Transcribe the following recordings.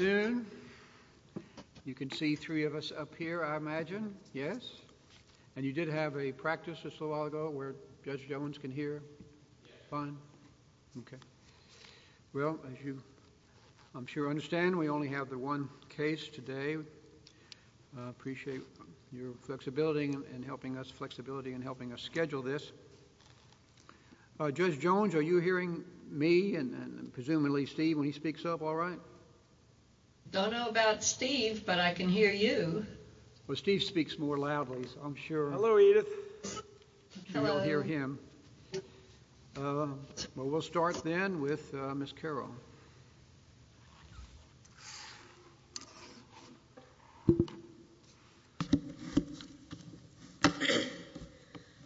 You can see three of us up here, I imagine. Yes. And you did have a practice just a while ago where Judge Jones can hear. Fine. Okay. Well, as you I'm sure understand, we only have the one case today. I appreciate your flexibility in helping us, flexibility in helping us schedule this. Judge Jones, are you hearing me and presumably Steve when he speaks up? All right. Don't know about Steve, but I can hear you. Well, Steve speaks more loudly. I'm sure. Hello, Edith. You'll hear him. Uh, well, we'll start then with Miss Carol.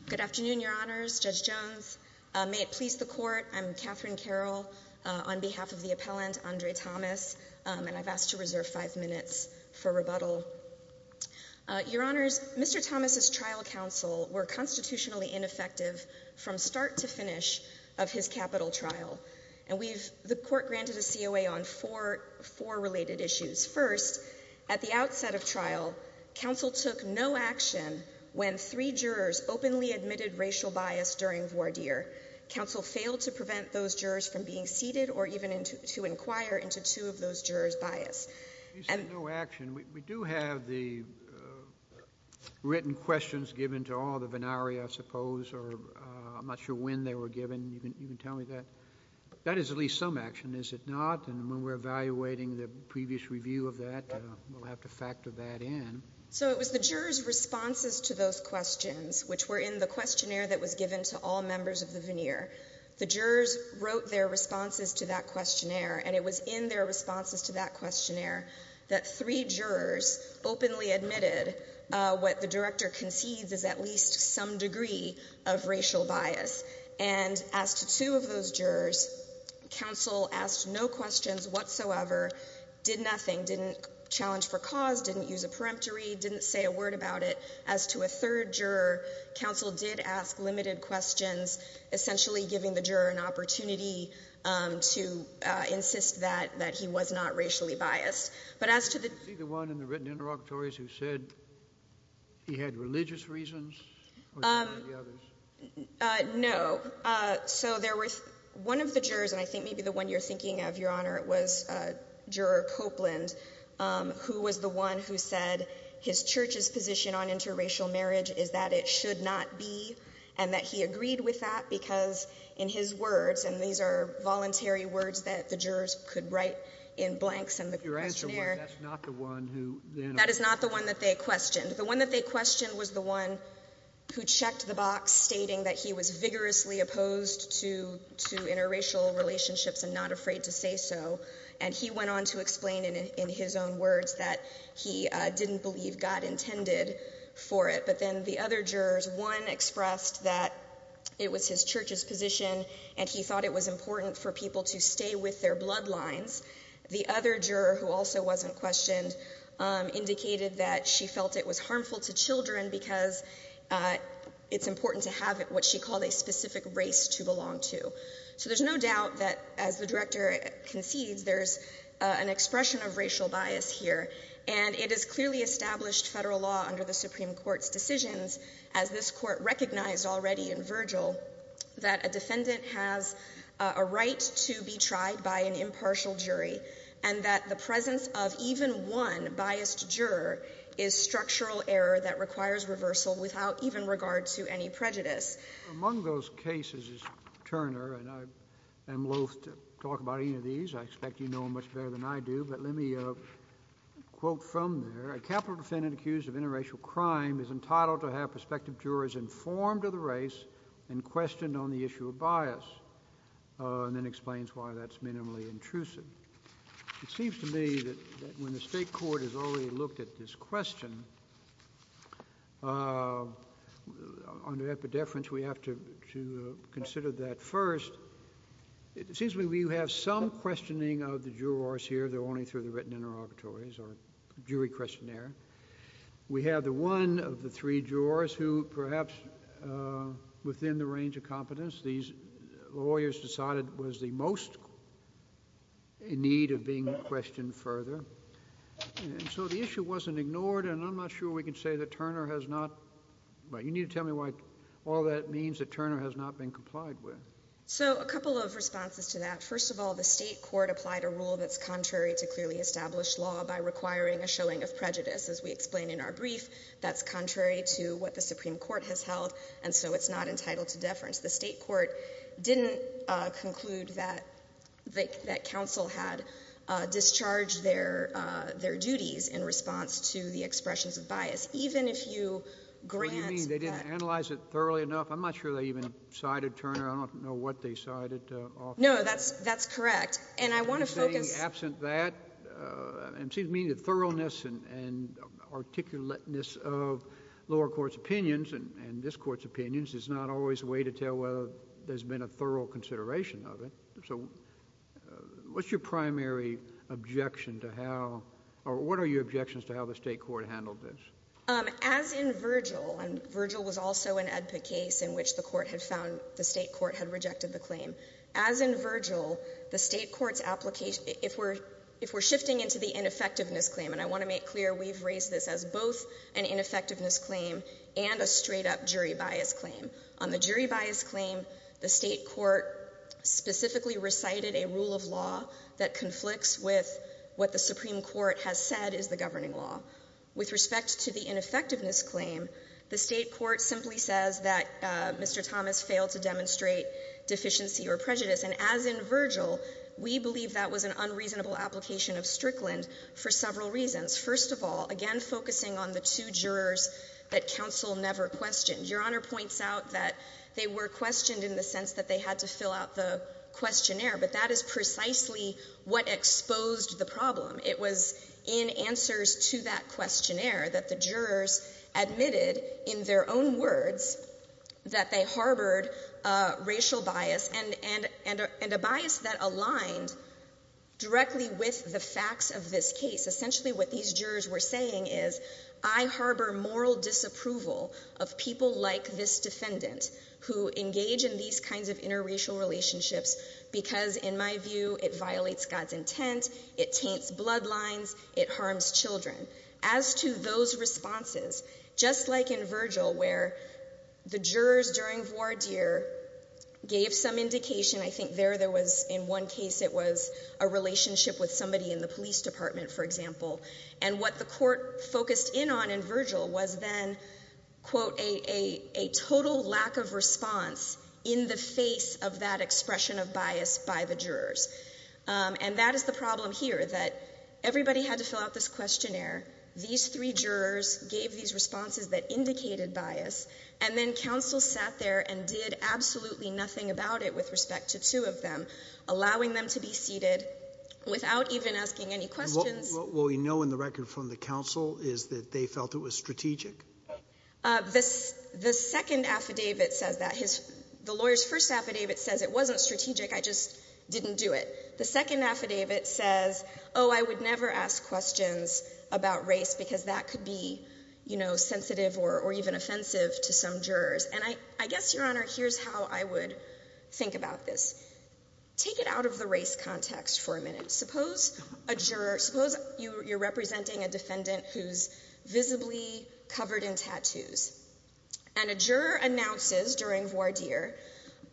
Good afternoon, Your Honors. Judge Jones. May it please the court. I'm Catherine Carroll on behalf of the appellant, Andre Thomas, and I've asked to reserve five minutes for rebuttal. Your Honors, Mr. Thomas's trial counsel were constitutionally ineffective from start to finish of his capital trial, and we've, the court granted a COA on four related issues. First, at the outset of trial, counsel took no action when three jurors openly admitted racial bias during voir dire. Counsel failed to prevent those jurors from being seated or even to inquire into two of those jurors bias. You said no action. We do have the written questions given to all, the venari, I suppose, or I'm not sure when they were given. You can tell me that. That is at least some action, is it not? And when we're evaluating the previous review of that, we'll have to factor that in. So it was the jurors' responses to those questions, which were in the questionnaire that was given to all members of the veneer. The jurors wrote their responses to that questionnaire, and it was in their responses to that questionnaire that three jurors openly admitted what the director concedes is at least some degree of racial bias. And as to two of those jurors, counsel asked no questions whatsoever, did nothing, didn't challenge for cause, didn't use a peremptory, didn't say a word about it. As to a third juror, counsel did ask limited questions, essentially giving the juror an opportunity to insist that, that he was not racially biased. But as to the... See the one in the written interrogatories who said he had religious reasons? No. So there was one of the jurors, and I think maybe the one you're thinking of, Your Honor, it was Juror Copeland, who was the one who said his church's position on interracial marriage is that it should not be, and that he agreed with that, because in his words, and these are voluntary words that the jurors could write in blanks in the questionnaire, that is not the one that they questioned. The one that they questioned was the one who checked the box stating that he was vigorously opposed to interracial relationships and not afraid to say so, and he went on to explain in his own words that he didn't believe God intended for it. But then the other jurors, one expressed that it was his church's position, and he thought it was important for people to stay with their bloodlines. The other juror, who also wasn't questioned, indicated that she felt it was harmful to children because it's important to have what she called a specific race to belong to. So there's no doubt that, as the director concedes, there's an expression of racial bias here, and it is clearly established federal law under the Supreme Court's decisions, as this court recognized already in Virgil, that a defendant has a right to be tried by an impartial jury, and that the presence of even one biased juror is structural error that requires reversal without even regard to any prejudice. Among those cases, Turner, and I am loath to talk about any of these, I expect you know them much better than I do, but let me quote from there, a capital defendant accused of interracial crime is entitled to have prospective jurors informed of the race and questioned on the issue of bias, and then explains why that's minimally intrusive. It seems to me that when the state court has already looked at this question, under epidefrance, we have to consider that first. It seems to me we have some questioning of the jurors here, though only through the written interrogatories or jury questionnaire. We have the one of the three jurors who, perhaps within the range of competence these lawyers decided was the most in need of being questioned further, and so the issue wasn't ignored, and I'm not sure we can say that Turner has not, but you need to tell me why all that means that Turner has not been complied with. So a couple of responses to that. First of all, the state court applied a rule that's contrary to clearly established law by requiring a showing of prejudice. As we explain in our brief, that's contrary to what the Supreme Court has held, and so it's not entitled to deference. The state court didn't conclude that counsel had discharged their duties in response to the expressions of bias. That's even if you grant that— What do you mean? They didn't analyze it thoroughly enough? I'm not sure they even cited Turner. I don't know what they cited. No, that's correct, and I want to focus— And it seems to me the thoroughness and articulateness of lower court's opinions and this Court's opinions is not always a way to tell whether there's been a thorough consideration of it. So what's your primary objection to how—or what are your objections to how the state court handled this? As in Virgil—and Virgil was also an EDPA case in which the court had found the state court had rejected the claim—as in Virgil, the state court's application—if we're shifting into the ineffectiveness claim, and I want to make clear we've raised this as both an ineffectiveness claim and a straight-up jury bias claim. On the jury bias claim, the state court specifically recited a rule of law that conflicts with what the Supreme Court has said is the governing law. With respect to the ineffectiveness claim, the state court simply says that Mr. Thomas failed to demonstrate deficiency or prejudice, and as in Virgil, we believe that was an unreasonable application of Strickland for several reasons. First of all, again focusing on the two jurors that counsel never questioned. Your Honor points out that they were questioned in the sense that they had to fill out the questionnaire, but that is precisely what exposed the problem. It was in answers to that questionnaire that the jurors admitted in their own words that they harbored racial bias and a bias that aligned directly with the facts of this case. Essentially what these jurors were saying is, I harbor moral disapproval of people like this defendant who engage in these kinds of interracial relationships because, in my view, it violates God's intent, it taints bloodlines, it harms children. As to those responses, just like in Virgil where the jurors during voir dire gave some indication, I think there there was in one case it was a relationship with somebody in the police department, for example, and what the court focused in on in Virgil was then, quote, a total lack of response in the face of that expression of bias by the jurors. And that is the problem here, that everybody had to fill out this questionnaire, these three jurors gave these responses that indicated bias, and then counsel sat there and did absolutely nothing about it with respect to two of them, allowing them to be seated without even asking any questions. What we know in the record from the counsel is that they felt it was strategic? The second affidavit says that. The lawyer's first affidavit says it wasn't strategic, I just didn't do it. The second affidavit says, oh, I would never ask questions about race because that could be sensitive or even offensive to some jurors. And I guess, Your Honor, here's how I would think about this. Take it out of the race context for a minute. Suppose you're representing a defendant who's visibly covered in tattoos. And a juror announces during voir dire,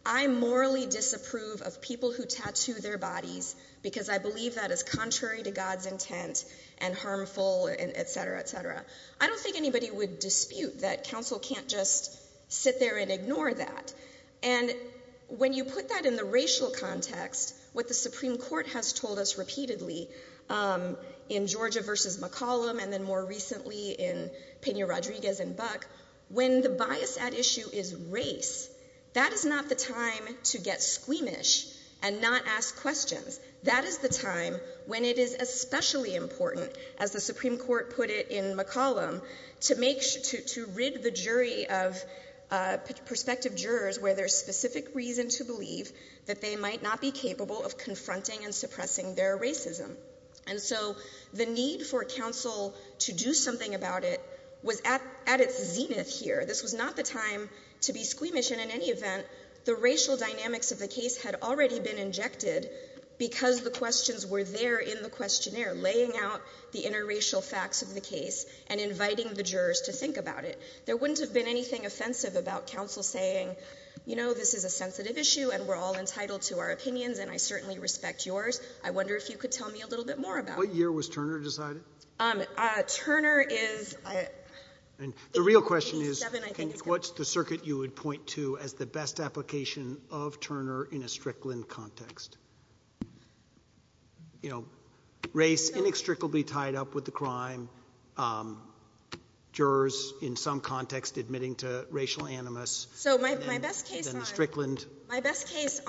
I morally disapprove of people who tattoo their bodies because I believe that is contrary to God's intent and harmful, et cetera, et cetera. I don't think anybody would dispute that counsel can't just sit there and ignore that. And when you put that in the racial context, what the Supreme Court has told us repeatedly in Georgia versus McCollum and then more recently in Pena-Rodriguez and Buck, when the bias at issue is race, that is not the time to get squeamish and not ask questions. That is the time when it is especially important, as the Supreme Court put it in McCollum, to rid the jury of prospective jurors where there's specific reason to believe that they might not be capable of confronting and suppressing their racism. And so the need for counsel to do something about it was at its zenith here. This was not the time to be squeamish. And in any event, the racial dynamics of the case had already been injected because the questions were there in the questionnaire, laying out the interracial facts of the case and inviting the jurors to think about it. There wouldn't have been anything offensive about counsel saying, you know, this is a sensitive issue, and we're all entitled to our opinions, and I certainly respect yours. I wonder if you could tell me a little bit more about it. What year was Turner decided? The real question is, what's the circuit you would point to as the best application of Turner in a Strickland context? You know, race inextricably tied up with the crime, jurors in some context admitting to racial animus. So my best case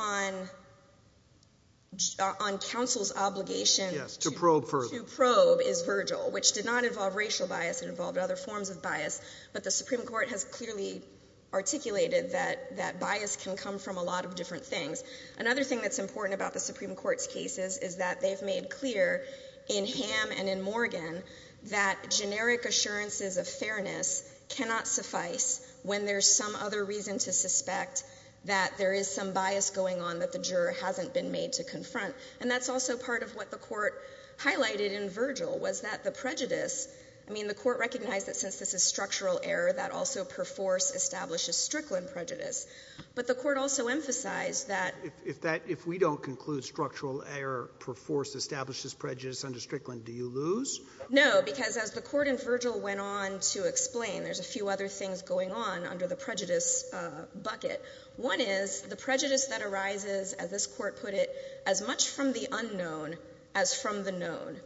on counsel's obligation to probe is Virgil, which did not involve racial bias. It involved other forms of bias. But the Supreme Court has clearly articulated that bias can come from a lot of different things. Another thing that's important about the Supreme Court's cases is that they've made clear in Ham and in Morgan that generic assurances of fairness cannot suffice when there's some other reason to suspect that there is some bias going on that the juror hasn't been made to confront. And that's also part of what the court highlighted in Virgil, was that the prejudice – I mean, the court recognized that since this is structural error, that also perforce establishes Strickland prejudice. But the court also emphasized that – If we don't conclude structural error perforce establishes prejudice under Strickland, do you lose? No, because as the court in Virgil went on to explain, there's a few other things going on under the prejudice bucket. One is the prejudice that arises, as this court put it, as much from the unknown as from the known.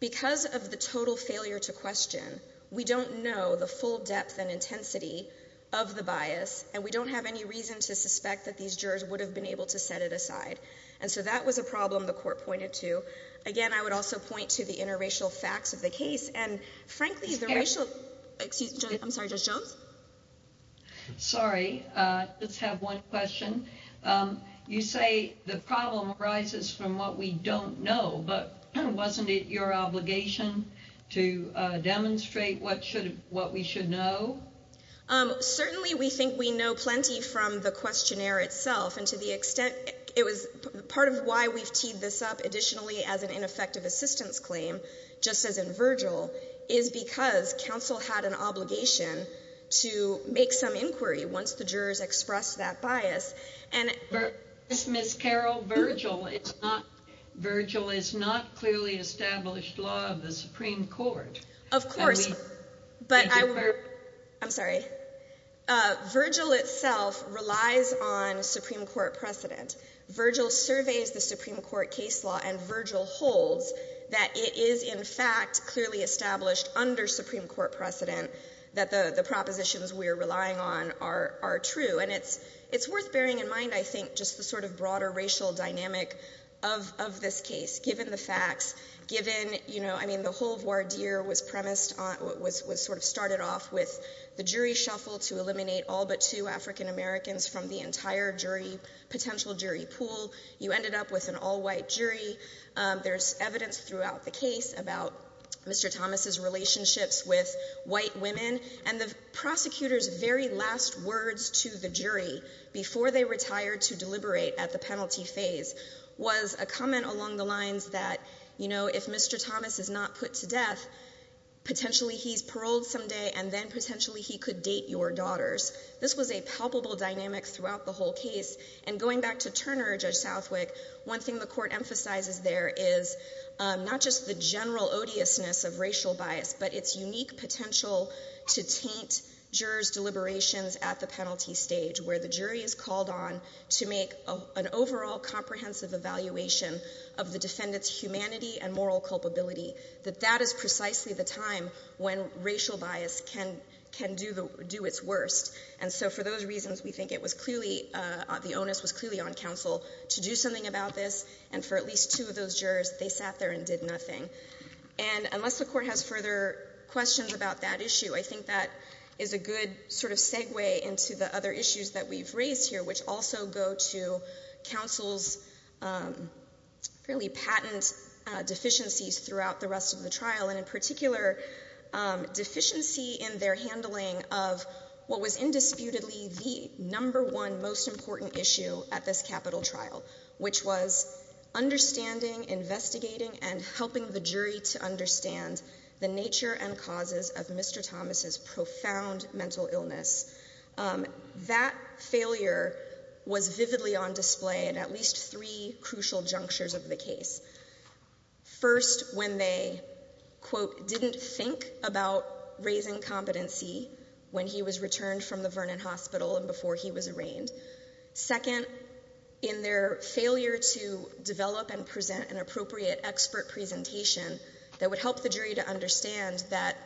Because of the total failure to question, we don't know the full depth and intensity of the bias, and we don't have any reason to suspect that these jurors would have been able to set it aside. And so that was a problem the court pointed to. Again, I would also point to the interracial facts of the case, and frankly, the racial – Excuse me. I'm sorry, Judge Jones? Sorry, I just have one question. You say the problem arises from what we don't know, but wasn't it your obligation to demonstrate what we should know? Certainly we think we know plenty from the questionnaire itself, and to the extent – part of why we've teed this up additionally as an ineffective assistance claim, just as in Virgil, is because counsel had an obligation to make some inquiry once the jurors expressed that bias. Ms. Carroll, Virgil is not clearly established law of the Supreme Court. Of course. I'm sorry. Virgil itself relies on Supreme Court precedent. Virgil surveys the Supreme Court case law, and Virgil holds that it is in fact clearly established under Supreme Court precedent that the propositions we are relying on are true. And it's worth bearing in mind, I think, just the sort of broader racial dynamic of this case, given the facts, given – you know, I mean, the whole voir dire was premised on – was sort of started off with the jury shuffle to eliminate all but two African Americans from the entire jury – potential jury pool. You ended up with an all-white jury. There's evidence throughout the case about Mr. Thomas's relationships with white women. And the prosecutor's very last words to the jury before they retired to deliberate at the penalty phase was a comment along the lines that, you know, if Mr. Thomas is not put to death, potentially he's paroled someday, and then potentially he could date your daughters. This was a palpable dynamic throughout the whole case. And going back to Turner or Judge Southwick, one thing the court emphasizes there is not just the general odiousness of racial bias, but its unique potential to taint jurors' deliberations at the penalty stage, where the jury is called on to make an overall comprehensive evaluation of the defendant's humanity and moral culpability, that that is precisely the time when racial bias can do its worst. And so for those reasons, we think it was clearly – the onus was clearly on counsel to do something about this. And for at least two of those jurors, they sat there and did nothing. And unless the court has further questions about that issue, I think that is a good sort of segue into the other issues that we've raised here, which also go to counsel's fairly patent deficiencies throughout the rest of the trial, and in particular, deficiency in their handling of what was indisputably the number one most important issue at this capital trial, which was understanding, investigating, and helping the jury to understand the nature and causes of Mr. Thomas' profound mental illness. That failure was vividly on display at at least three crucial junctures of the case. First, when they, quote, didn't think about raising competency when he was returned from the Vernon Hospital and before he was arraigned. Second, in their failure to develop and present an appropriate expert presentation that would help the jury to understand that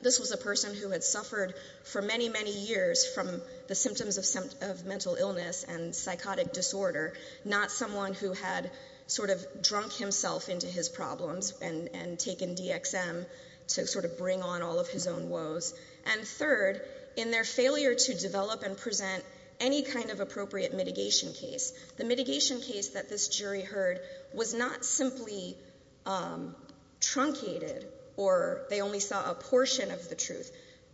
this was a person who had suffered for many, many years from the symptoms of mental illness and psychotic disorder, not someone who had sort of drunk himself into his problems and taken DXM to sort of bring on all of his own woes. And third, in their failure to develop and present any kind of appropriate mitigation case. The mitigation case that this jury heard was not simply truncated or they only saw a portion of the truth.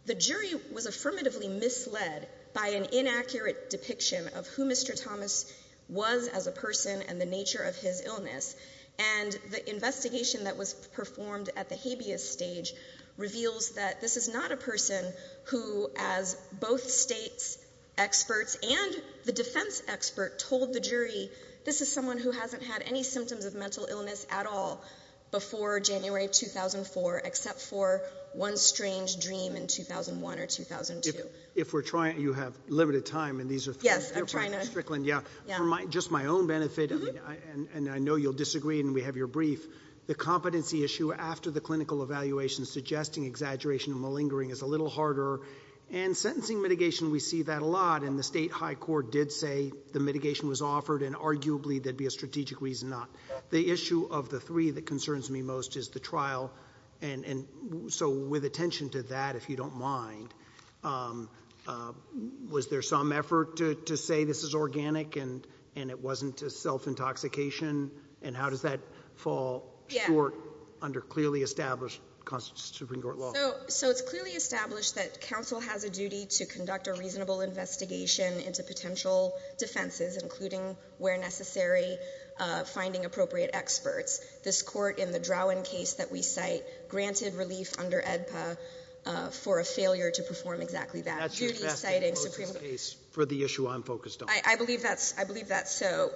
The jury was affirmatively misled by an inaccurate depiction of who Mr. Thomas was as a person and the nature of his illness. And the investigation that was performed at the habeas stage reveals that this is not a person who, as both states' experts and the defense expert, told the jury, this is someone who hasn't had any symptoms of mental illness at all before January 2004, except for one strange dream in 2001 or 2002. If we're trying, you have limited time and these are three. Yes, I'm trying to. Strickland, yeah. For just my own benefit, and I know you'll disagree and we have your brief, the competency issue after the clinical evaluation suggesting exaggeration and malingering is a little harder. And sentencing mitigation, we see that a lot and the state high court did say the mitigation was offered and arguably there'd be a strategic reason not. The issue of the three that concerns me most is the trial. And so with attention to that, if you don't mind, was there some effort to say this is organic and it wasn't a self-intoxication? And how does that fall short under clearly established Supreme Court law? So it's clearly established that counsel has a duty to conduct a reasonable investigation into potential defenses, including where necessary, finding appropriate experts. This court in the Drowen case that we cite granted relief under AEDPA for a failure to perform exactly that. That's your best and closest case for the issue I'm focused on. I believe that's, I believe that's so.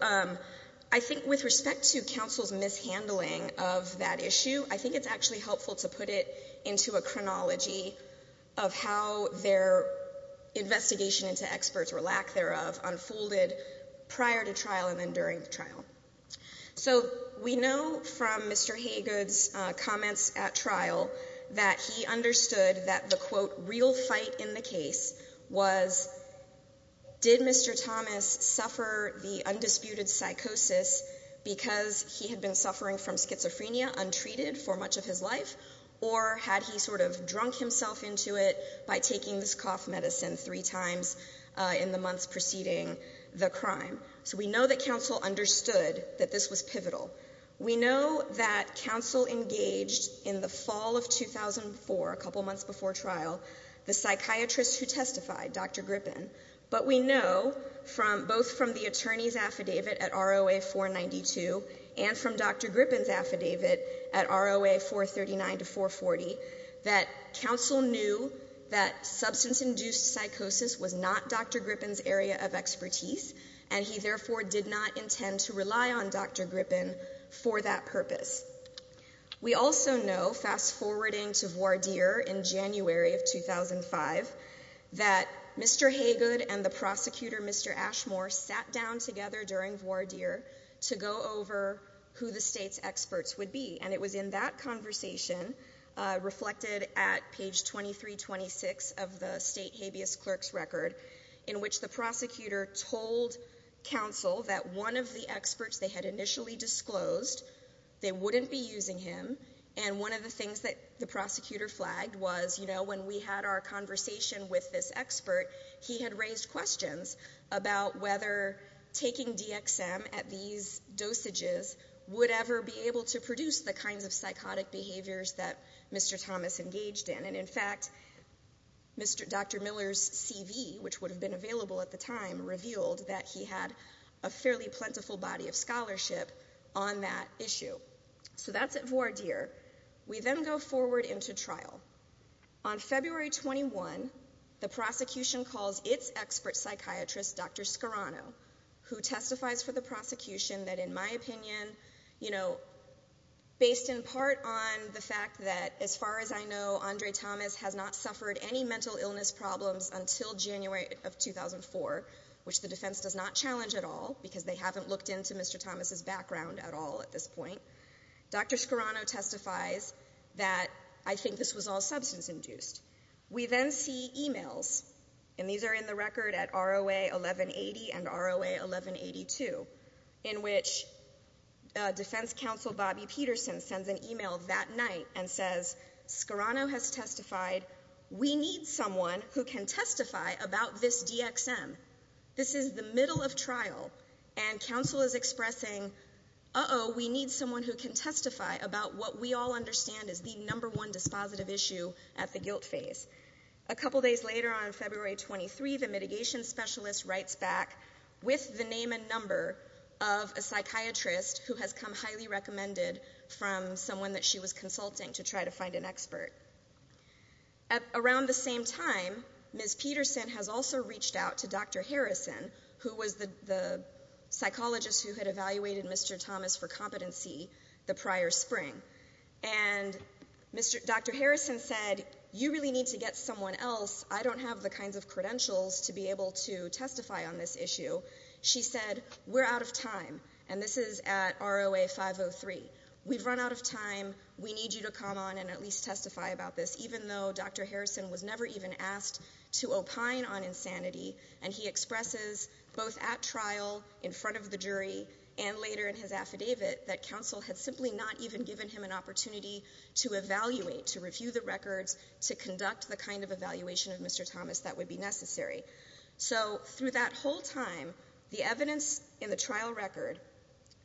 I think with respect to counsel's mishandling of that issue, I think it's actually helpful to put it into a chronology of how their investigation into experts or lack thereof unfolded prior to trial and then during the trial. So we know from Mr. Haygood's comments at trial that he understood that the quote real fight in the case was did Mr. Thomas suffer the undisputed psychosis because he had been suffering from schizophrenia untreated for much of his life? Or had he sort of drunk himself into it by taking this cough medicine three times in the months preceding the crime? So we know that counsel understood that this was pivotal. We know that counsel engaged in the fall of 2004, a couple months before trial, the psychiatrist who testified, Dr. Grippen. But we know from both from the attorney's affidavit at ROA 492 and from Dr. Grippen's affidavit at ROA 439 to 440 that counsel knew that substance-induced psychosis was not Dr. Grippen's area of expertise. And he therefore did not intend to rely on Dr. Grippen for that purpose. We also know, fast-forwarding to voir dire in January of 2005, that Mr. Haygood and the prosecutor, Mr. Ashmore, sat down together during voir dire to go over who the state's experts would be. And it was in that conversation, reflected at page 2326 of the state habeas clerks record, in which the prosecutor told counsel that one of the experts they had initially disclosed, they wouldn't be using him. And one of the things that the prosecutor flagged was, you know, when we had our conversation with this expert, he had raised questions about whether taking DXM at these dosages would ever be able to produce the kinds of psychotic behaviors that Mr. Thomas engaged in. And, in fact, Dr. Miller's CV, which would have been available at the time, revealed that he had a fairly plentiful body of scholarship on that issue. So that's at voir dire. We then go forward into trial. On February 21, the prosecution calls its expert psychiatrist, Dr. Scarano, who testifies for the prosecution that, in my opinion, you know, based in part on the fact that, as far as I know, Andre Thomas has not suffered any mental illness problems until January of 2004, which the defense does not challenge at all, because they haven't looked into Mr. Thomas' background at all at this point. Dr. Scarano testifies that, I think this was all substance-induced. We then see e-mails, and these are in the record at ROA 1180 and ROA 1182, in which Defense Counsel Bobby Peterson sends an e-mail that night and says, Scarano has testified. We need someone who can testify about this DXM. This is the middle of trial, and counsel is expressing, uh-oh, we need someone who can testify about what we all understand is the number one dispositive issue at the guilt phase. A couple days later, on February 23, the mitigation specialist writes back with the name and number of a psychiatrist who has come highly recommended from someone that she was consulting to try to find an expert. Around the same time, Ms. Peterson has also reached out to Dr. Harrison, who was the psychologist who had evaluated Mr. Thomas for competency the prior spring. And Dr. Harrison said, you really need to get someone else. I don't have the kinds of credentials to be able to testify on this issue. She said, we're out of time. And this is at ROA 503. We've run out of time. We need you to come on and at least testify about this, even though Dr. Harrison was never even asked to opine on insanity. And he expresses, both at trial, in front of the jury, and later in his affidavit, that counsel had simply not even given him an opportunity to evaluate, to review the records, to conduct the kind of evaluation of Mr. Thomas that would be necessary. So through that whole time, the evidence in the trial record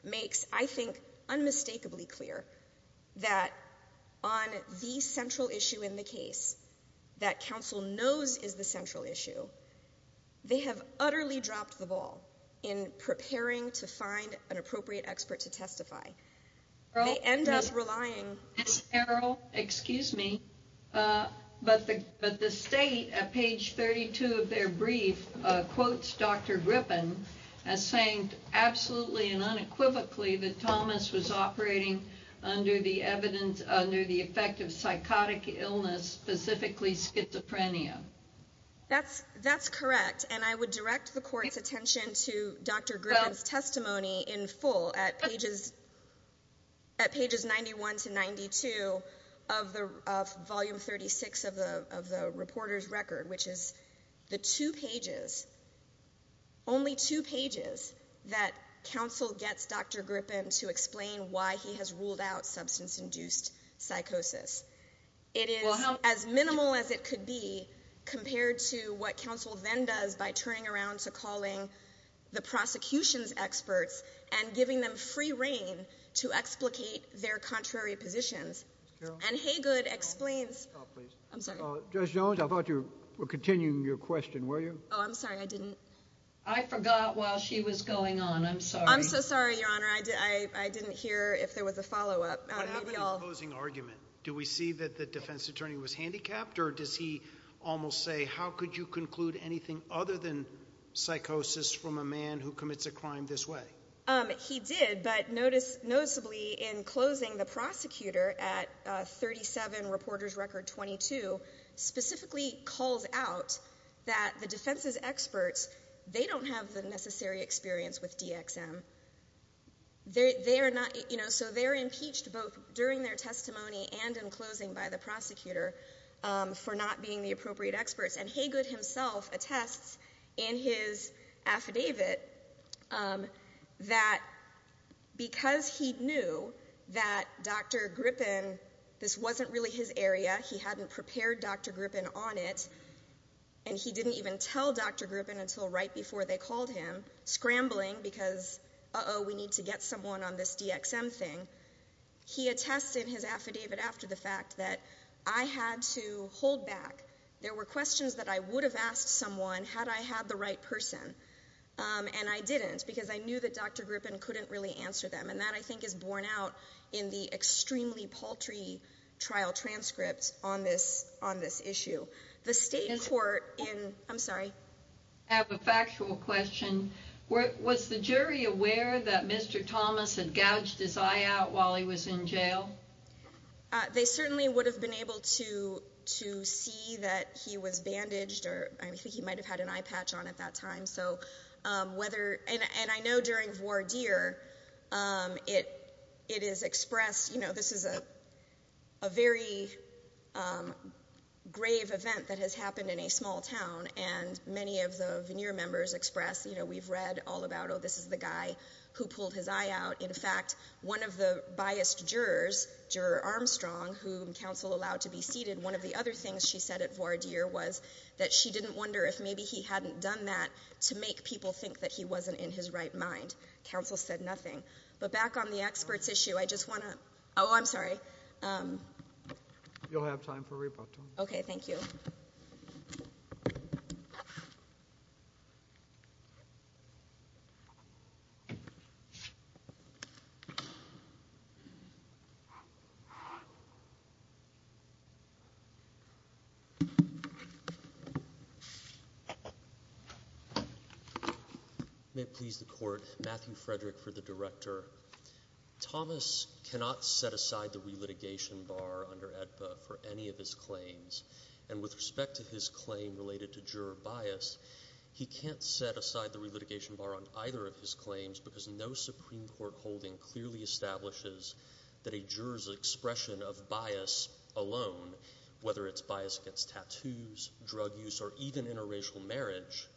makes, I think, unmistakably clear that on the central issue in the case, that counsel knows is the central issue, they have utterly dropped the ball in preparing to find an appropriate expert to testify. They end up relying. Ms. Harrell, excuse me. But the state, at page 32 of their brief, quotes Dr. Griffin as saying absolutely and unequivocally that Thomas was operating under the effect of psychotic illness, specifically schizophrenia. That's correct. And I would direct the court's attention to Dr. Griffin's testimony in full at pages 91 to 92 of volume 36 of the reporter's record, which is the two pages, only two pages, that counsel gets Dr. Griffin to explain why he has ruled out substance-induced psychosis. It is as minimal as it could be compared to what counsel then does by turning around to calling the prosecution's experts and giving them free reign to explicate their contrary positions. Ms. Harrell? And Haygood explains— Stop, please. I'm sorry. Judge Jones, I thought you were continuing your question, were you? Oh, I'm sorry. I didn't— I forgot while she was going on. I'm sorry. I'm so sorry, Your Honor. I didn't hear if there was a follow-up. What happened in the closing argument? Do we see that the defense attorney was handicapped, or does he almost say, how could you conclude anything other than psychosis from a man who commits a crime this way? He did, but noticeably in closing, the prosecutor at 37, reporter's record 22, specifically calls out that the defense's experts, they don't have the necessary experience with DXM. So they're impeached both during their testimony and in closing by the prosecutor for not being the appropriate experts. And Haygood himself attests in his affidavit that because he knew that Dr. Grippen, this wasn't really his area, he hadn't prepared Dr. Grippen on it, and he didn't even tell Dr. Grippen until right before they called him, scrambling because, uh-oh, we need to get someone on this DXM thing. He attests in his affidavit after the fact that I had to hold back. There were questions that I would have asked someone had I had the right person, and I didn't because I knew that Dr. Grippen couldn't really answer them. And that, I think, is borne out in the extremely paltry trial transcript on this issue. The state court in—I'm sorry. I have a factual question. Was the jury aware that Mr. Thomas had gouged his eye out while he was in jail? They certainly would have been able to see that he was bandaged, or I think he might have had an eye patch on at that time. So whether—and I know during voir dire, it is expressed, you know, this is a very grave event that has happened in a small town, and many of the veneer members express, you know, we've read all about, oh, this is the guy who pulled his eye out. In fact, one of the biased jurors, Juror Armstrong, whom counsel allowed to be seated, one of the other things she said at voir dire was that she didn't wonder if maybe he hadn't done that to make people think that he wasn't in his right mind. Counsel said nothing. But back on the experts issue, I just want to—oh, I'm sorry. You'll have time for rebuttal. Okay. Thank you. May it please the Court. Matthew Frederick for the Director. Thomas cannot set aside the relitigation bar under AEDPA for any of his claims, and with respect to his claim related to juror bias, he can't set aside the relitigation bar on either of his claims because no Supreme Court holding clearly establishes that a juror's expression of bias alone, whether it's bias against tattoos, drug use, or even interracial marriage,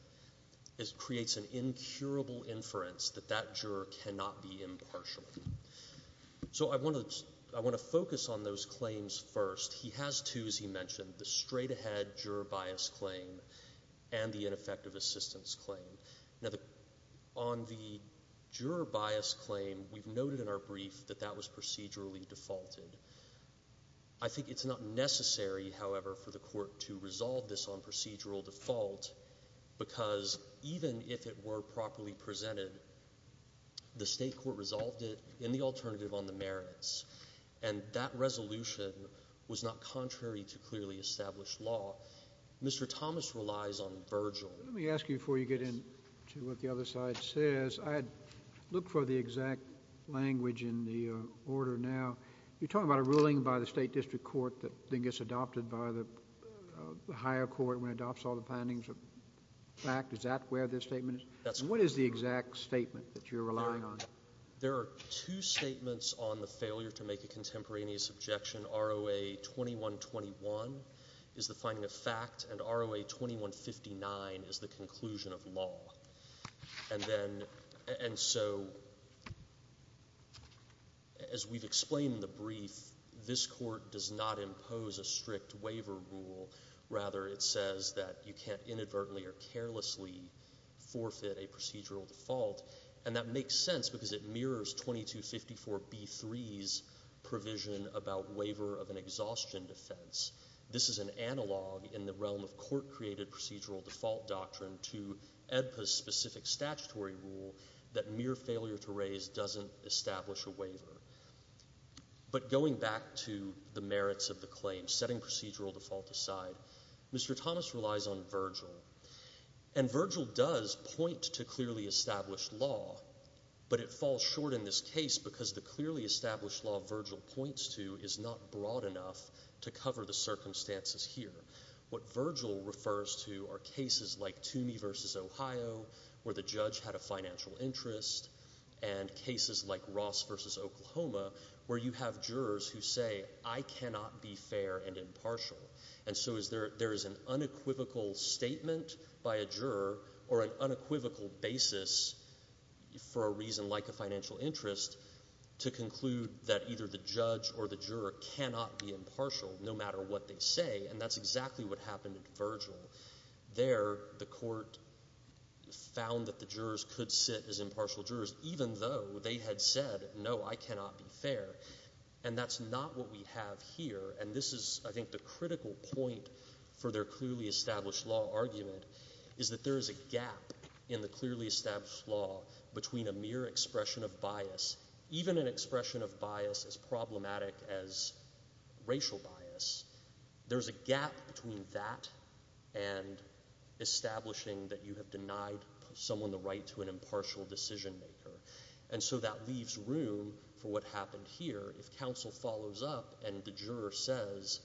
creates an incurable inference that that juror cannot be impartial. So I want to focus on those claims first. He has two, as he mentioned, the straight-ahead juror bias claim and the ineffective assistance claim. Now, on the juror bias claim, we've noted in our brief that that was procedurally defaulted. I think it's not necessary, however, for the Court to resolve this on procedural default because even if it were properly presented, the state court resolved it in the alternative on the merits, and that resolution was not contrary to clearly established law. Mr. Thomas relies on Virgil. Let me ask you before you get into what the other side says, look for the exact language in the order now. You're talking about a ruling by the State District Court that then gets adopted by the higher court when it adopts all the findings of fact. Is that where the statement is? What is the exact statement that you're relying on? There are two statements on the failure to make a contemporaneous objection. ROA 2121 is the finding of fact, and ROA 2159 is the conclusion of law. And so as we've explained in the brief, this court does not impose a strict waiver rule. Rather, it says that you can't inadvertently or carelessly forfeit a procedural default, and that makes sense because it mirrors 2254b-3's provision about waiver of an exhaustion defense. This is an analog in the realm of court-created procedural default doctrine to EDPA's specific statutory rule that mere failure to raise doesn't establish a waiver. But going back to the merits of the claim, setting procedural default aside, Mr. Thomas relies on Virgil, and Virgil does point to clearly established law, but it falls short in this case because the clearly established law Virgil points to is not broad enough to cover the circumstances here. What Virgil refers to are cases like Toomey v. Ohio, where the judge had a financial interest, and cases like Ross v. Oklahoma, where you have jurors who say, I cannot be fair and impartial. And so there is an unequivocal statement by a juror or an unequivocal basis for a reason like a financial interest to conclude that either the judge or the juror cannot be impartial no matter what they say, and that's exactly what happened in Virgil. There the court found that the jurors could sit as impartial jurors even though they had said, no, I cannot be fair. And that's not what we have here, and this is, I think, the critical point for their clearly established law argument, is that there is a gap in the clearly established law between a mere expression of bias, even an expression of bias as problematic as racial bias. There's a gap between that and establishing that you have denied someone the right to an impartial decision maker. And so that leaves room for what happened here. If counsel follows up and the juror says,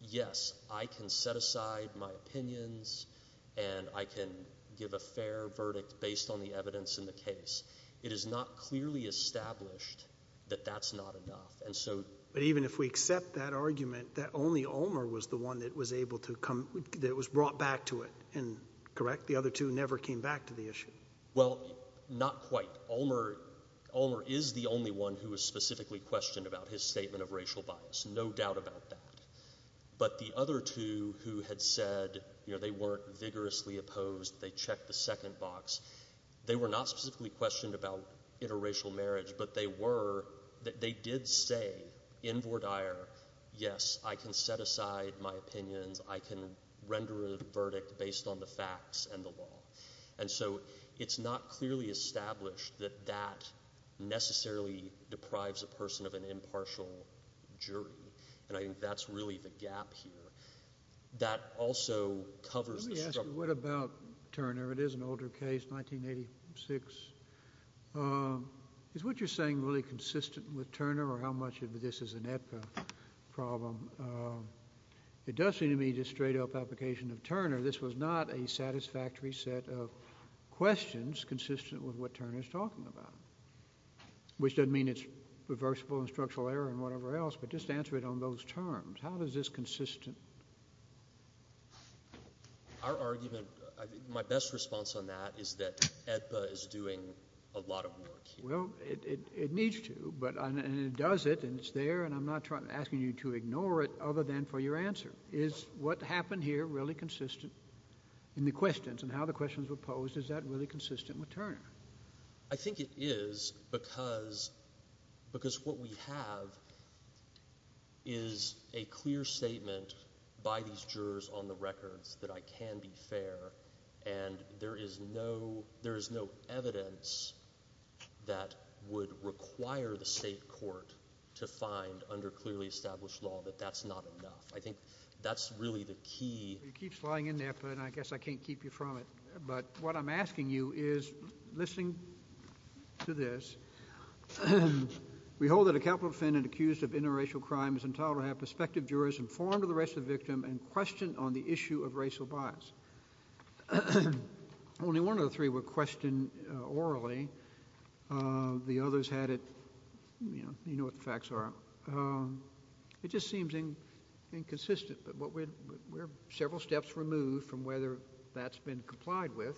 yes, I can set aside my opinions, and I can give a fair verdict based on the evidence in the case, it is not clearly established that that's not enough. But even if we accept that argument, that only Ulmer was the one that was brought back to it, correct? The other two never came back to the issue. Well, not quite. Ulmer is the only one who was specifically questioned about his statement of racial bias. No doubt about that. But the other two who had said they weren't vigorously opposed, they checked the second box, they were not specifically questioned about interracial marriage, but they did say in Vordaer, yes, I can set aside my opinions, I can render a verdict based on the facts and the law. And so it's not clearly established that that necessarily deprives a person of an impartial jury, and I think that's really the gap here. That also covers the struggle. Let me ask you, what about Turner? It is an older case, 1986. Is what you're saying really consistent with Turner, or how much of this is an ETCA problem? It does seem to me to be a straight-up application of Turner. This was not a satisfactory set of questions consistent with what Turner is talking about, which doesn't mean it's reversible and structural error and whatever else, but just answer it on those terms. How is this consistent? Our argument, my best response on that is that ETCA is doing a lot of work here. Well, it needs to, and it does it, and it's there, and I'm not asking you to ignore it other than for your answer. Is what happened here really consistent in the questions and how the questions were posed? Is that really consistent with Turner? I think it is because what we have is a clear statement by these jurors on the records that I can be fair, and there is no evidence that would require the state court to find under clearly established law that that's not enough. I think that's really the key. You keep flying in there, but I guess I can't keep you from it. But what I'm asking you is, listening to this, we hold that a capital defendant accused of interracial crime is entitled to have prospective jurors inform the rest of the victim and question on the issue of racial bias. Only one of the three were questioned orally. The others had it. You know what the facts are. It just seems inconsistent, but we're several steps removed from whether that's been complied with.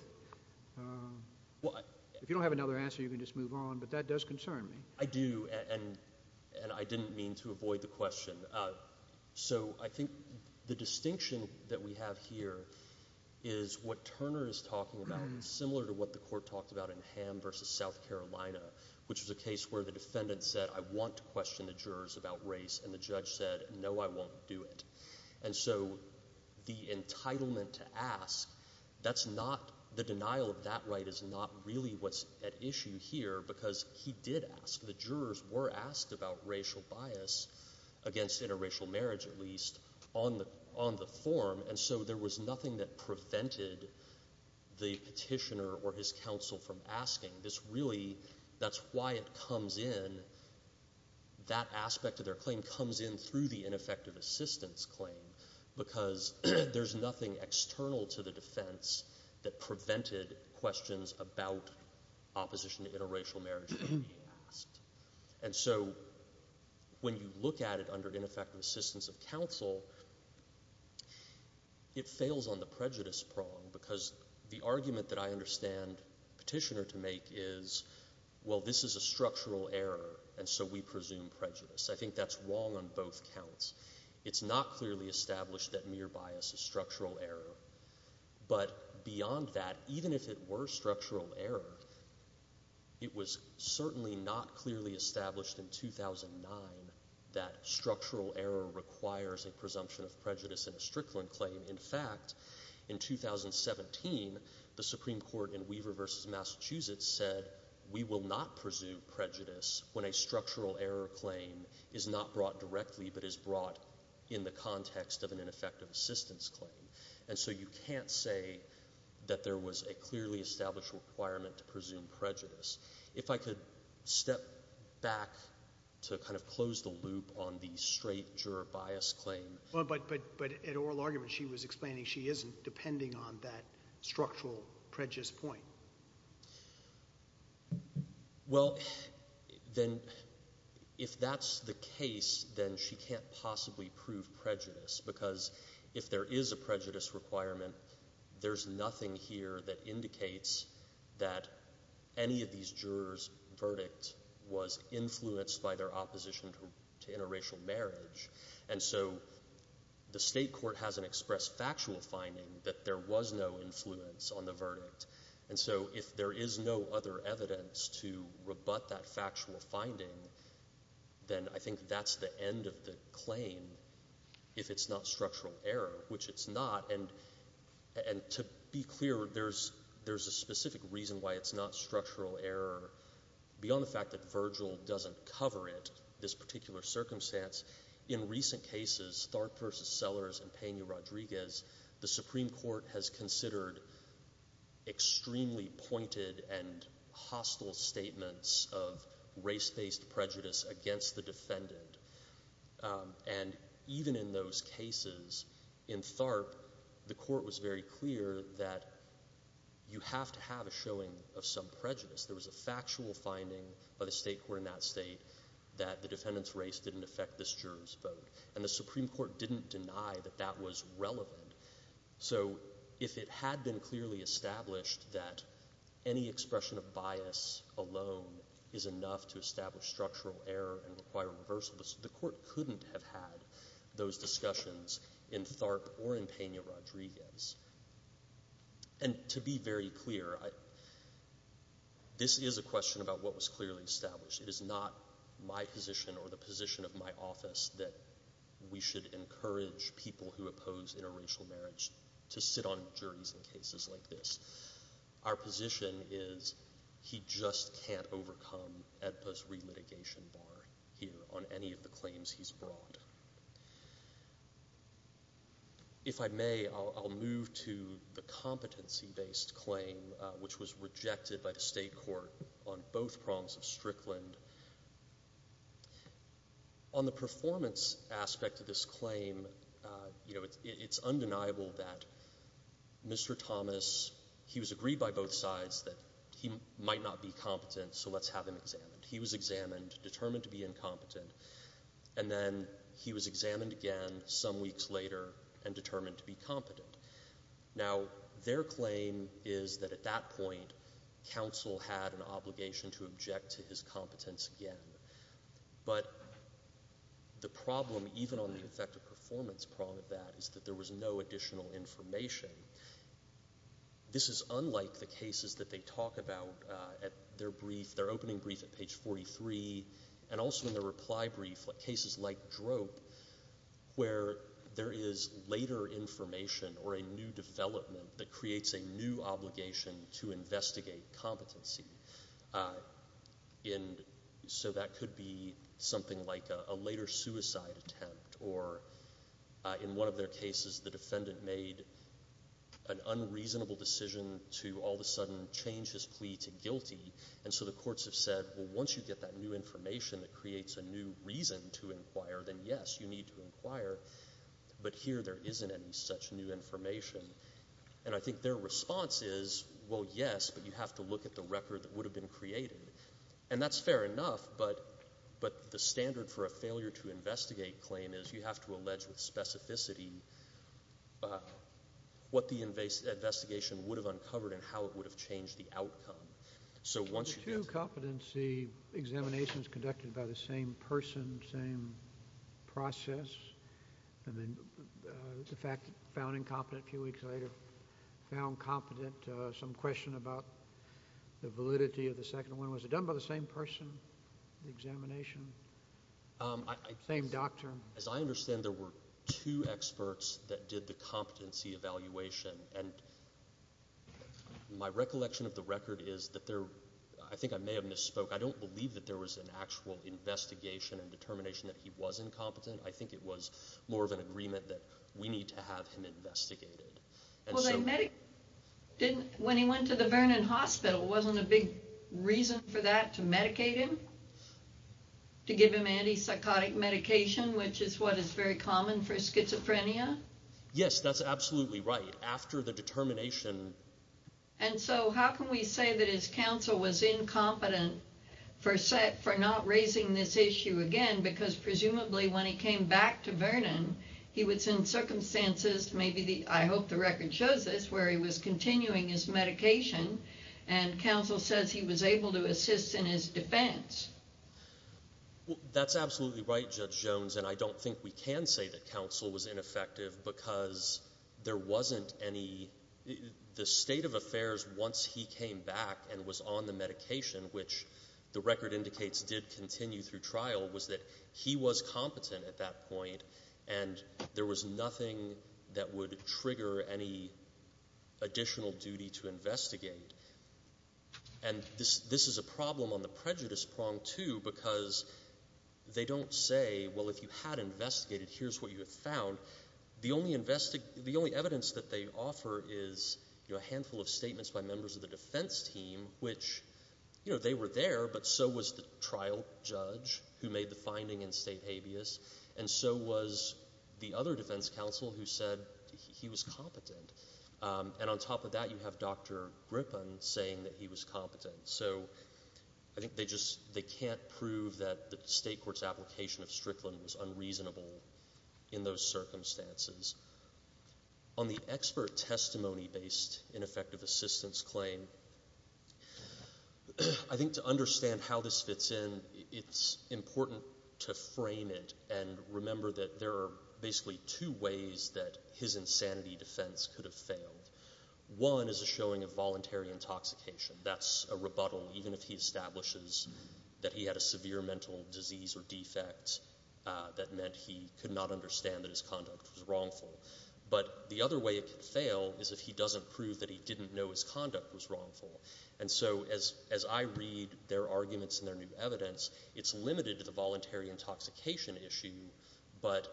If you don't have another answer, you can just move on, but that does concern me. I do, and I didn't mean to avoid the question. So I think the distinction that we have here is what Turner is talking about, similar to what the court talked about in Ham versus South Carolina, which was a case where the defendant said, I want to question the jurors about race, and the judge said, no, I won't do it. And so the entitlement to ask, that's not the denial of that right is not really what's at issue here, because he did ask. The jurors were asked about racial bias against interracial marriage, at least, on the form, and so there was nothing that prevented the petitioner or his counsel from asking. This really, that's why it comes in, that aspect of their claim comes in through the ineffective assistance claim, because there's nothing external to the defense that prevented questions about opposition to interracial marriage being asked. And so when you look at it under ineffective assistance of counsel, it fails on the prejudice prong, because the argument that I understand the petitioner to make is, well, this is a structural error, and so we presume prejudice. I think that's wrong on both counts. It's not clearly established that mere bias is structural error, but beyond that, even if it were structural error, it was certainly not clearly established in 2009 that structural error requires a presumption of prejudice in a Strickland claim. In fact, in 2017, the Supreme Court in Weaver v. Massachusetts said, we will not presume prejudice when a structural error claim is not brought directly, but is brought in the context of an ineffective assistance claim. And so you can't say that there was a clearly established requirement to presume prejudice. If I could step back to kind of close the loop on the straight juror bias claim. But at oral argument, she was explaining she isn't depending on that structural prejudice point. Well, then if that's the case, then she can't possibly prove prejudice, because if there is a prejudice requirement, there's nothing here that indicates that any of these jurors' verdict was influenced by their opposition to interracial marriage. And so the state court hasn't expressed factual finding that there was no influence on the verdict. And so if there is no other evidence to rebut that factual finding, then I think that's the end of the claim, if it's not structural error, which it's not. And to be clear, there's a specific reason why it's not structural error, beyond the fact that Virgil doesn't cover it, this particular circumstance. In recent cases, Tharp v. Sellers and Peña Rodriguez, the Supreme Court has considered extremely pointed and hostile statements of race-based prejudice against the defendant. And even in those cases, in Tharp, the court was very clear that you have to have a showing of some prejudice. There was a factual finding by the state court in that state that the defendant's race didn't affect this juror's vote. And the Supreme Court didn't deny that that was relevant. So if it had been clearly established that any expression of bias alone is enough to establish structural error and require a reversal, the court couldn't have had those discussions in Tharp or in Peña Rodriguez. And to be very clear, this is a question about what was clearly established. It is not my position or the position of my office that we should encourage people who oppose interracial marriage to sit on juries in cases like this. Our position is he just can't overcome AEDPA's relitigation bar here on any of the claims he's brought. If I may, I'll move to the competency-based claim which was rejected by the state court on both prongs of Strickland. On the performance aspect of this claim, it's undeniable that Mr. Thomas, he was agreed by both sides that he might not be competent, so let's have him examined. He was examined, determined to be incompetent. And then he was examined again some weeks later and determined to be competent. Now, their claim is that at that point, counsel had an obligation to object to his competence again. But the problem, even on the effective performance prong of that, is that there was no additional information. This is unlike the cases that they talk about at their brief, their opening brief at page 43, and also in their reply brief, cases like DROPE, where there is later information or a new development that creates a new obligation to investigate competency. And so that could be something like a later suicide attempt, or in one of their cases the defendant made an unreasonable decision to all of a sudden change his plea to guilty. And so the courts have said, well, once you get that new information that creates a new reason to inquire, then, yes, you need to inquire. But here there isn't any such new information. And I think their response is, well, yes, but you have to look at the record that would have been created. And that's fair enough, but the standard for a failure-to-investigate claim is you have to allege with specificity what the investigation would have uncovered and how it would have changed the outcome. The two competency examinations conducted by the same person, same process, and then the fact found incompetent a few weeks later, found competent, some question about the validity of the second one. Was it done by the same person, the examination, same doctor? As I understand, there were two experts that did the competency evaluation. And my recollection of the record is that there – I think I may have misspoke. I don't believe that there was an actual investigation and determination that he was incompetent. I think it was more of an agreement that we need to have him investigated. Well, when he went to the Vernon Hospital, wasn't a big reason for that to medicate him, to give him antipsychotic medication, which is what is very common for schizophrenia? Yes, that's absolutely right. After the determination – And so how can we say that his counsel was incompetent for not raising this issue again because presumably when he came back to Vernon, he was in circumstances, I hope the record shows this, where he was continuing his medication, and counsel says he was able to assist in his defense. That's absolutely right, Judge Jones, and I don't think we can say that counsel was ineffective because there wasn't any – the state of affairs once he came back and was on the medication, which the record indicates did continue through trial, was that he was competent at that point and there was nothing that would trigger any additional duty to investigate. And this is a problem on the prejudice prong too because they don't say, well, if you had investigated, here's what you have found. The only evidence that they offer is a handful of statements by members of the defense team, which they were there, but so was the trial judge who made the finding in state habeas, and so was the other defense counsel who said he was competent. And on top of that, you have Dr. Griffin saying that he was competent. So I think they just can't prove that the state court's application of Strickland was unreasonable in those circumstances. On the expert testimony-based ineffective assistance claim, I think to understand how this fits in, it's important to frame it and remember that there are basically two ways that his insanity defense could have failed. One is a showing of voluntary intoxication. That's a rebuttal. Even if he establishes that he had a severe mental disease or defect, that meant he could not understand that his conduct was wrongful. But the other way it could fail is if he doesn't prove that he didn't know his conduct was wrongful. And so as I read their arguments in their new evidence, it's limited to the voluntary intoxication issue, but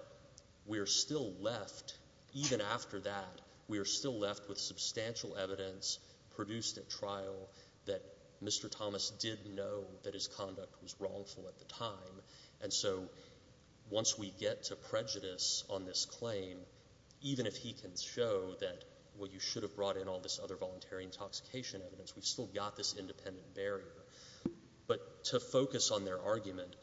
we are still left, even after that, we are still left with substantial evidence produced at trial that Mr. Thomas did know that his conduct was wrongful at the time. And so once we get to prejudice on this claim, even if he can show that, well, you should have brought in all this other voluntary intoxication evidence, we've still got this independent barrier. But to focus on their argument,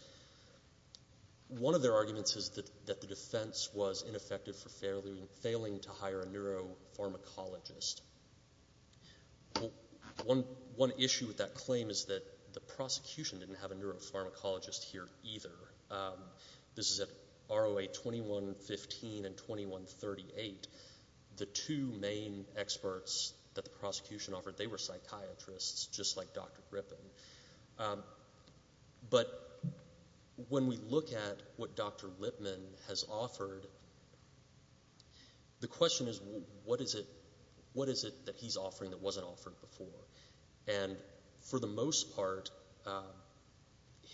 one of their arguments is that the defense was ineffective for failing to hire a neuropharmacologist. One issue with that claim is that the prosecution didn't have a neuropharmacologist here either. This is at ROA 2115 and 2138. The two main experts that the prosecution offered, they were psychiatrists, just like Dr. Grippen. But when we look at what Dr. Lipman has offered, the question is, what is it that he's offering that wasn't offered before? And for the most part,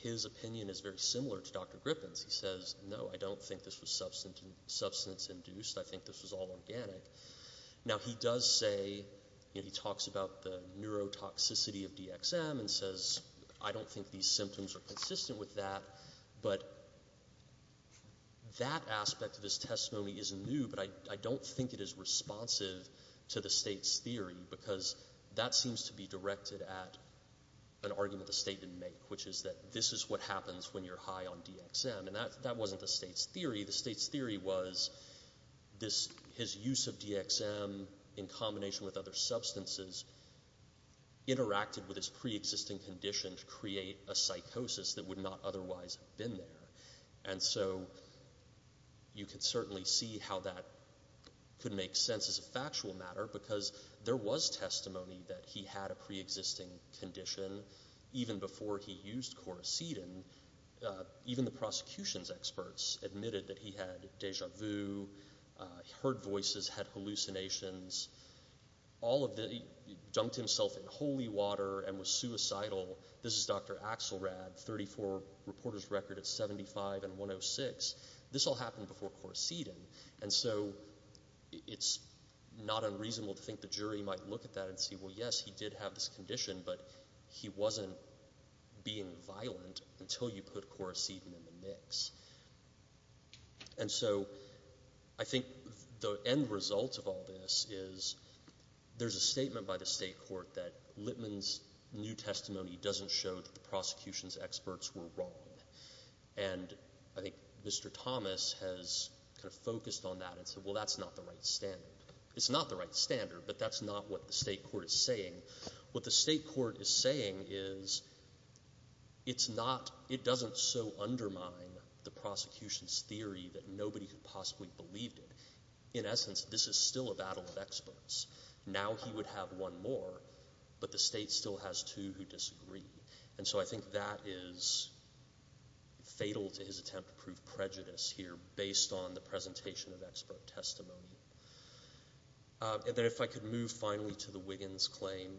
his opinion is very similar to Dr. Grippen's. He says, no, I don't think this was substance-induced. I think this was all organic. Now, he does say, he talks about the neurotoxicity of DXM and says, I don't think these symptoms are consistent with that. But that aspect of his testimony isn't new, but I don't think it is responsive to the state's theory because that seems to be directed at an argument the state didn't make, which is that this is what happens when you're high on DXM. And that wasn't the state's theory. The state's theory was his use of DXM in combination with other substances interacted with his preexisting condition to create a psychosis that would not otherwise have been there. And so you can certainly see how that could make sense as a factual matter because there was testimony that he had a preexisting condition even before he used quercetin. Even the prosecution's experts admitted that he had deja vu, heard voices, had hallucinations. He dunked himself in holy water and was suicidal. This is Dr. Axelrad, 34, reporter's record at 75 and 106. This all happened before quercetin. And so it's not unreasonable to think the jury might look at that and say, well, yes, he did have this condition, but he wasn't being violent until you put quercetin in the mix. And so I think the end result of all this is there's a statement by the state court that Littman's new testimony doesn't show that the prosecution's experts were wrong. And I think Mr. Thomas has kind of focused on that and said, well, that's not the right standard. It's not the right standard, but that's not what the state court is saying. What the state court is saying is it doesn't so undermine the prosecution's theory that nobody could possibly believe it. In essence, this is still a battle of experts. Now he would have one more, but the state still has two who disagree. And so I think that is fatal to his attempt to prove prejudice here based on the presentation of expert testimony. And then if I could move finally to the Wiggins claim.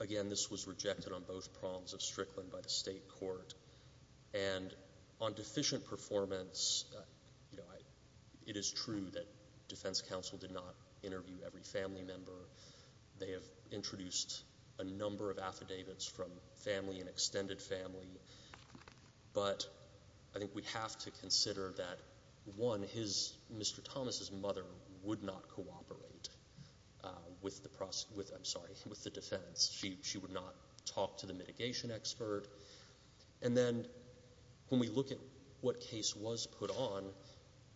Again, this was rejected on both prongs of Strickland by the state court. And on deficient performance, it is true that defense counsel did not interview every family member. They have introduced a number of affidavits from family and extended family. But I think we have to consider that, one, Mr. Thomas' mother would not cooperate with the defense. She would not talk to the mitigation expert. And then when we look at what case was put on,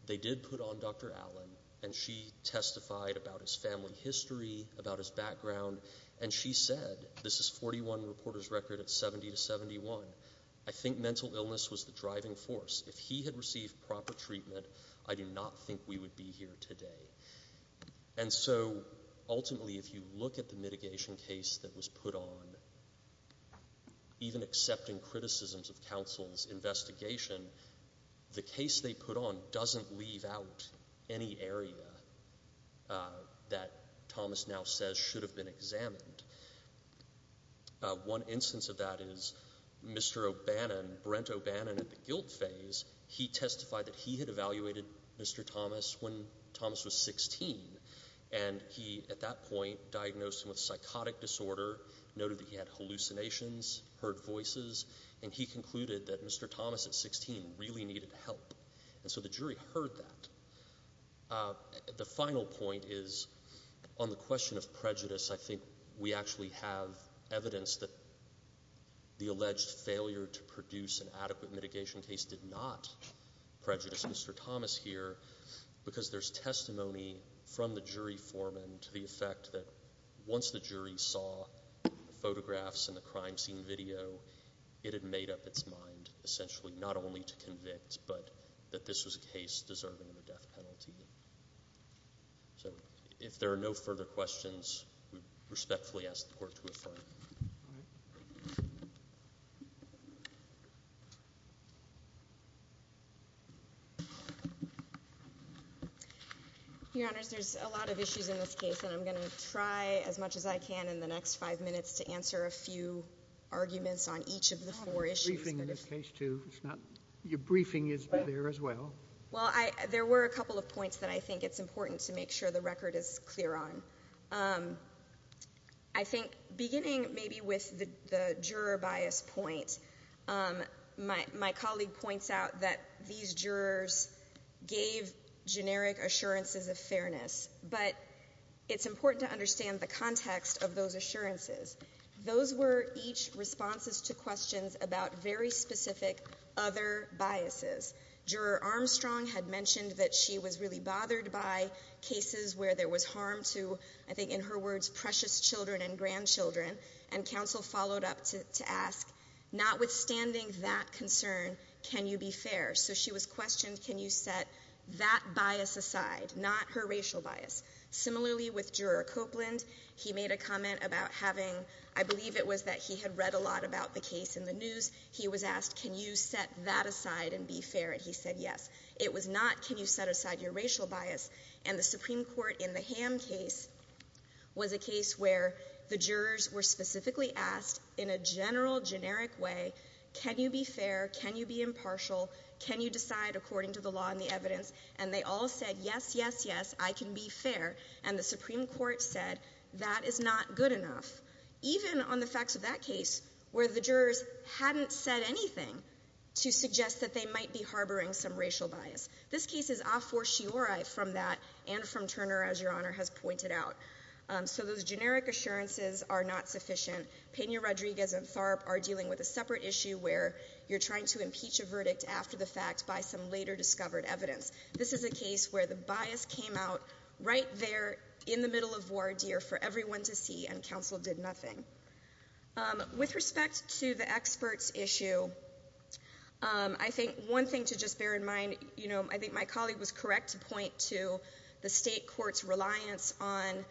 they did put on Dr. Allen, and she testified about his family history, about his background. And she said, this is 41 reporters' record at 70 to 71. I think mental illness was the driving force. If he had received proper treatment, I do not think we would be here today. And so ultimately if you look at the mitigation case that was put on, even accepting criticisms of counsel's investigation, the case they put on doesn't leave out any area that Thomas now says should have been examined. One instance of that is Mr. O'Bannon, Brent O'Bannon at the guilt phase, he testified that he had evaluated Mr. Thomas when Thomas was 16, and he at that point diagnosed him with psychotic disorder, noted that he had hallucinations, heard voices, and he concluded that Mr. Thomas at 16 really needed help. And so the jury heard that. The final point is on the question of prejudice, I think we actually have evidence that the alleged failure to produce an adequate mitigation case did not prejudice Mr. Thomas here because there's testimony from the jury foreman to the effect that once the jury saw photographs and the crime scene video, it had made up its mind essentially not only to convict, but that this was a case deserving of a death penalty. So if there are no further questions, we respectfully ask the Court to affirm. All right. Your Honors, there's a lot of issues in this case, and I'm going to try as much as I can in the next five minutes to answer a few arguments on each of the four issues. I have a briefing in this case, too. Your briefing is there as well. Well, there were a couple of points that I think it's important to make sure the record is clear on. I think beginning maybe with the juror bias point, my colleague points out that these jurors gave generic assurances of fairness, but it's important to understand the context of those assurances. Those were each responses to questions about very specific other biases. Juror Armstrong had mentioned that she was really bothered by cases where there was harm to, I think in her words, precious children and grandchildren, and counsel followed up to ask, notwithstanding that concern, can you be fair? So she was questioned, can you set that bias aside, not her racial bias? Similarly with Juror Copeland, he made a comment about having, I believe it was that he had read a lot about the case in the news. He was asked, can you set that aside and be fair, and he said yes. It was not can you set aside your racial bias, and the Supreme Court in the Ham case was a case where the jurors were specifically asked in a general, generic way, can you be fair, can you be impartial, can you decide according to the law and the evidence, and they all said yes, yes, yes, I can be fair, and the Supreme Court said that is not good enough. Even on the facts of that case where the jurors hadn't said anything to suggest that they might be harboring some racial bias. This case is a fortiori from that and from Turner, as your Honor has pointed out. So those generic assurances are not sufficient. Pena-Rodriguez and Tharp are dealing with a separate issue where you're trying to impeach a verdict after the fact by some later discovered evidence. This is a case where the bias came out right there in the middle of voir dire for everyone to see and counsel did nothing. With respect to the experts issue, I think one thing to just bear in mind, you know, I think my colleague was correct to point to the state court's reliance on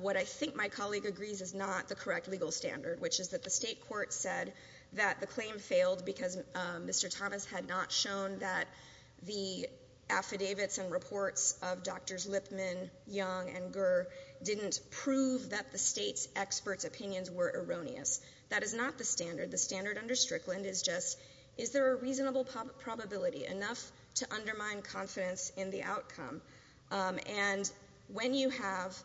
what I think my colleague agrees is not the correct legal standard, which is that the state court said that the claim failed because Mr. Thomas had not shown that the affidavits and reports of Drs. Lipman, Young, and Gurr didn't prove that the state's experts' opinions were erroneous. That is not the standard. The standard under Strickland is just is there a reasonable probability enough to undermine confidence in the outcome? And when you have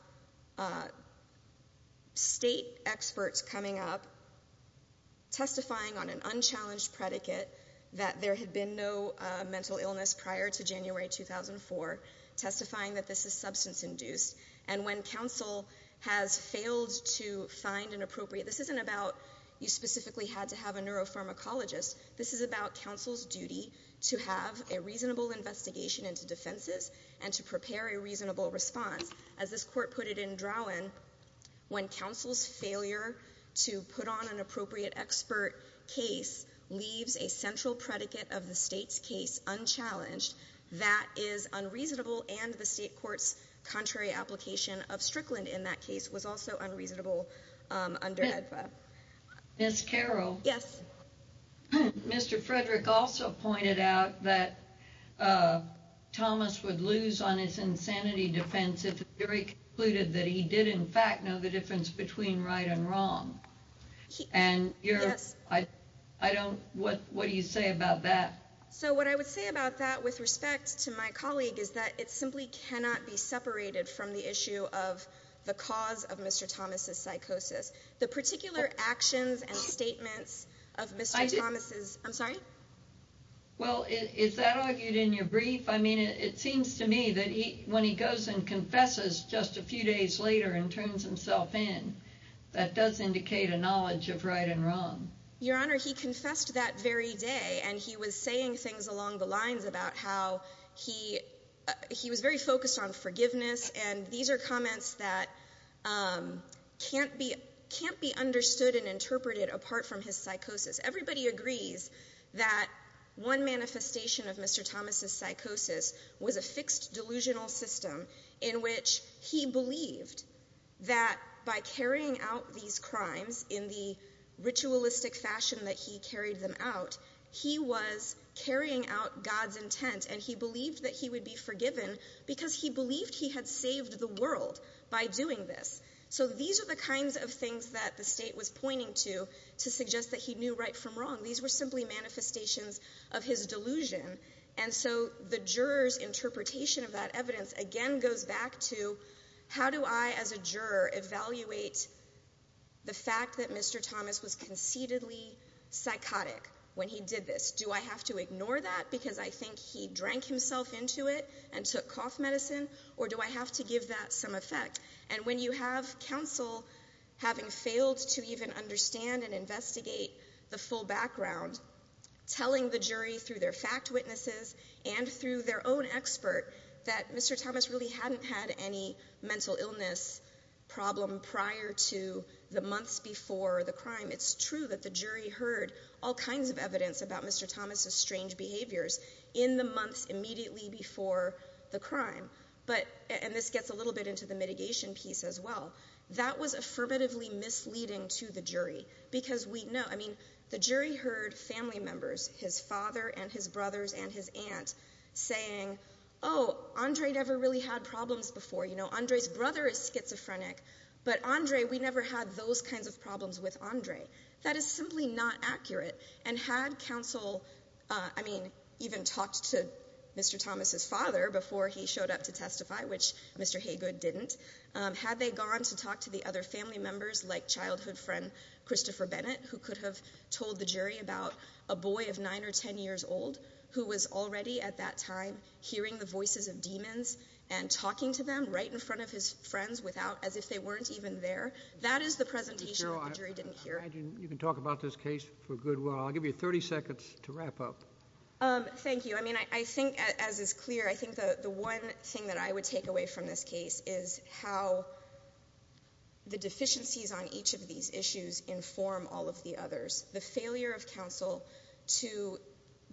state experts coming up, testifying on an unchallenged predicate that there had been no mental illness prior to January 2004, testifying that this is substance-induced, and when counsel has failed to find an appropriate, this isn't about you specifically had to have a neuropharmacologist. This is about counsel's duty to have a reasonable investigation into defenses and to prepare a reasonable response. As this court put it in Drowan, when counsel's failure to put on an appropriate expert case leaves a central predicate of the state's case unchallenged, that is unreasonable, and the state court's contrary application of Strickland in that case was also unreasonable under EDFA. Ms. Carroll? Yes. Mr. Frederick also pointed out that Thomas would lose on his insanity defense if the jury concluded that he did in fact know the difference between right and wrong. Yes. And what do you say about that? So what I would say about that with respect to my colleague is that it simply cannot be separated from the issue of the cause of Mr. Thomas' psychosis. The particular actions and statements of Mr. Thomas' – I'm sorry? Well, is that argued in your brief? I mean, it seems to me that when he goes and confesses just a few days later and turns himself in, that does indicate a knowledge of right and wrong. Your Honor, he confessed that very day, and he was saying things along the lines about how he was very focused on forgiveness, and these are comments that can't be understood and interpreted apart from his psychosis. Everybody agrees that one manifestation of Mr. Thomas' psychosis was a fixed delusional system in which he believed that by carrying out these crimes in the ritualistic fashion that he carried them out, he was carrying out God's intent, and he believed that he would be forgiven because he believed he had saved the world by doing this. So these are the kinds of things that the State was pointing to to suggest that he knew right from wrong. These were simply manifestations of his delusion, and so the juror's interpretation of that evidence again goes back to how do I as a juror evaluate the fact that Mr. Thomas was conceitedly psychotic when he did this? Do I have to ignore that because I think he drank himself into it and took cough medicine, or do I have to give that some effect? And when you have counsel having failed to even understand and investigate the full background, telling the jury through their fact witnesses and through their own expert that Mr. Thomas really hadn't had any mental illness problem prior to the months before the crime, it's true that the jury heard all kinds of evidence about Mr. Thomas' strange behaviors in the months immediately before the crime, and this gets a little bit into the mitigation piece as well. That was affirmatively misleading to the jury because the jury heard family members, his father and his brothers and his aunt, saying, oh, Andre never really had problems before. You know, Andre's brother is schizophrenic, but Andre, we never had those kinds of problems with Andre. That is simply not accurate, and had counsel, I mean, even talked to Mr. Thomas' father before he showed up to testify, which Mr. Haygood didn't, had they gone to talk to the other family members like childhood friend Christopher Bennett, who could have told the jury about a boy of nine or ten years old who was already at that time hearing the voices of demons and talking to them right in front of his friends without, as if they weren't even there. That is the presentation that the jury didn't hear. I imagine you can talk about this case for a good while. I'll give you 30 seconds to wrap up. Thank you. I mean, I think, as is clear, I think the one thing that I would take away from this case is how the deficiencies on each of these issues inform all of the others. The failure of counsel to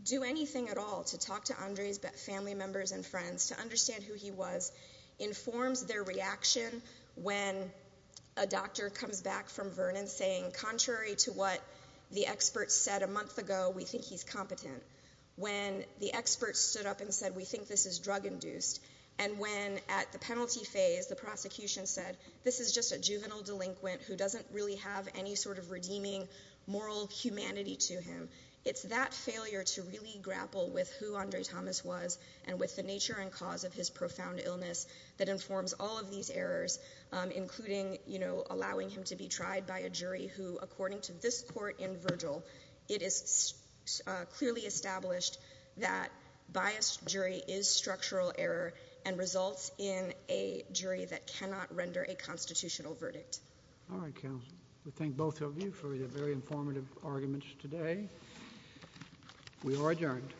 do anything at all, to talk to Andre's family members and friends, to understand who he was, informs their reaction when a doctor comes back from Vernon saying, contrary to what the experts said a month ago, we think he's competent. When the experts stood up and said, we think this is drug-induced. And when, at the penalty phase, the prosecution said, this is just a juvenile delinquent who doesn't really have any sort of redeeming moral humanity to him. It's that failure to really grapple with who Andre Thomas was and with the nature and cause of his profound illness that informs all of these errors, including allowing him to be tried by a jury who, according to this court in Virgil, it is clearly established that biased jury is structural error and results in a jury that cannot render a constitutional verdict. All right, counsel. We thank both of you for your very informative arguments today. We are adjourned.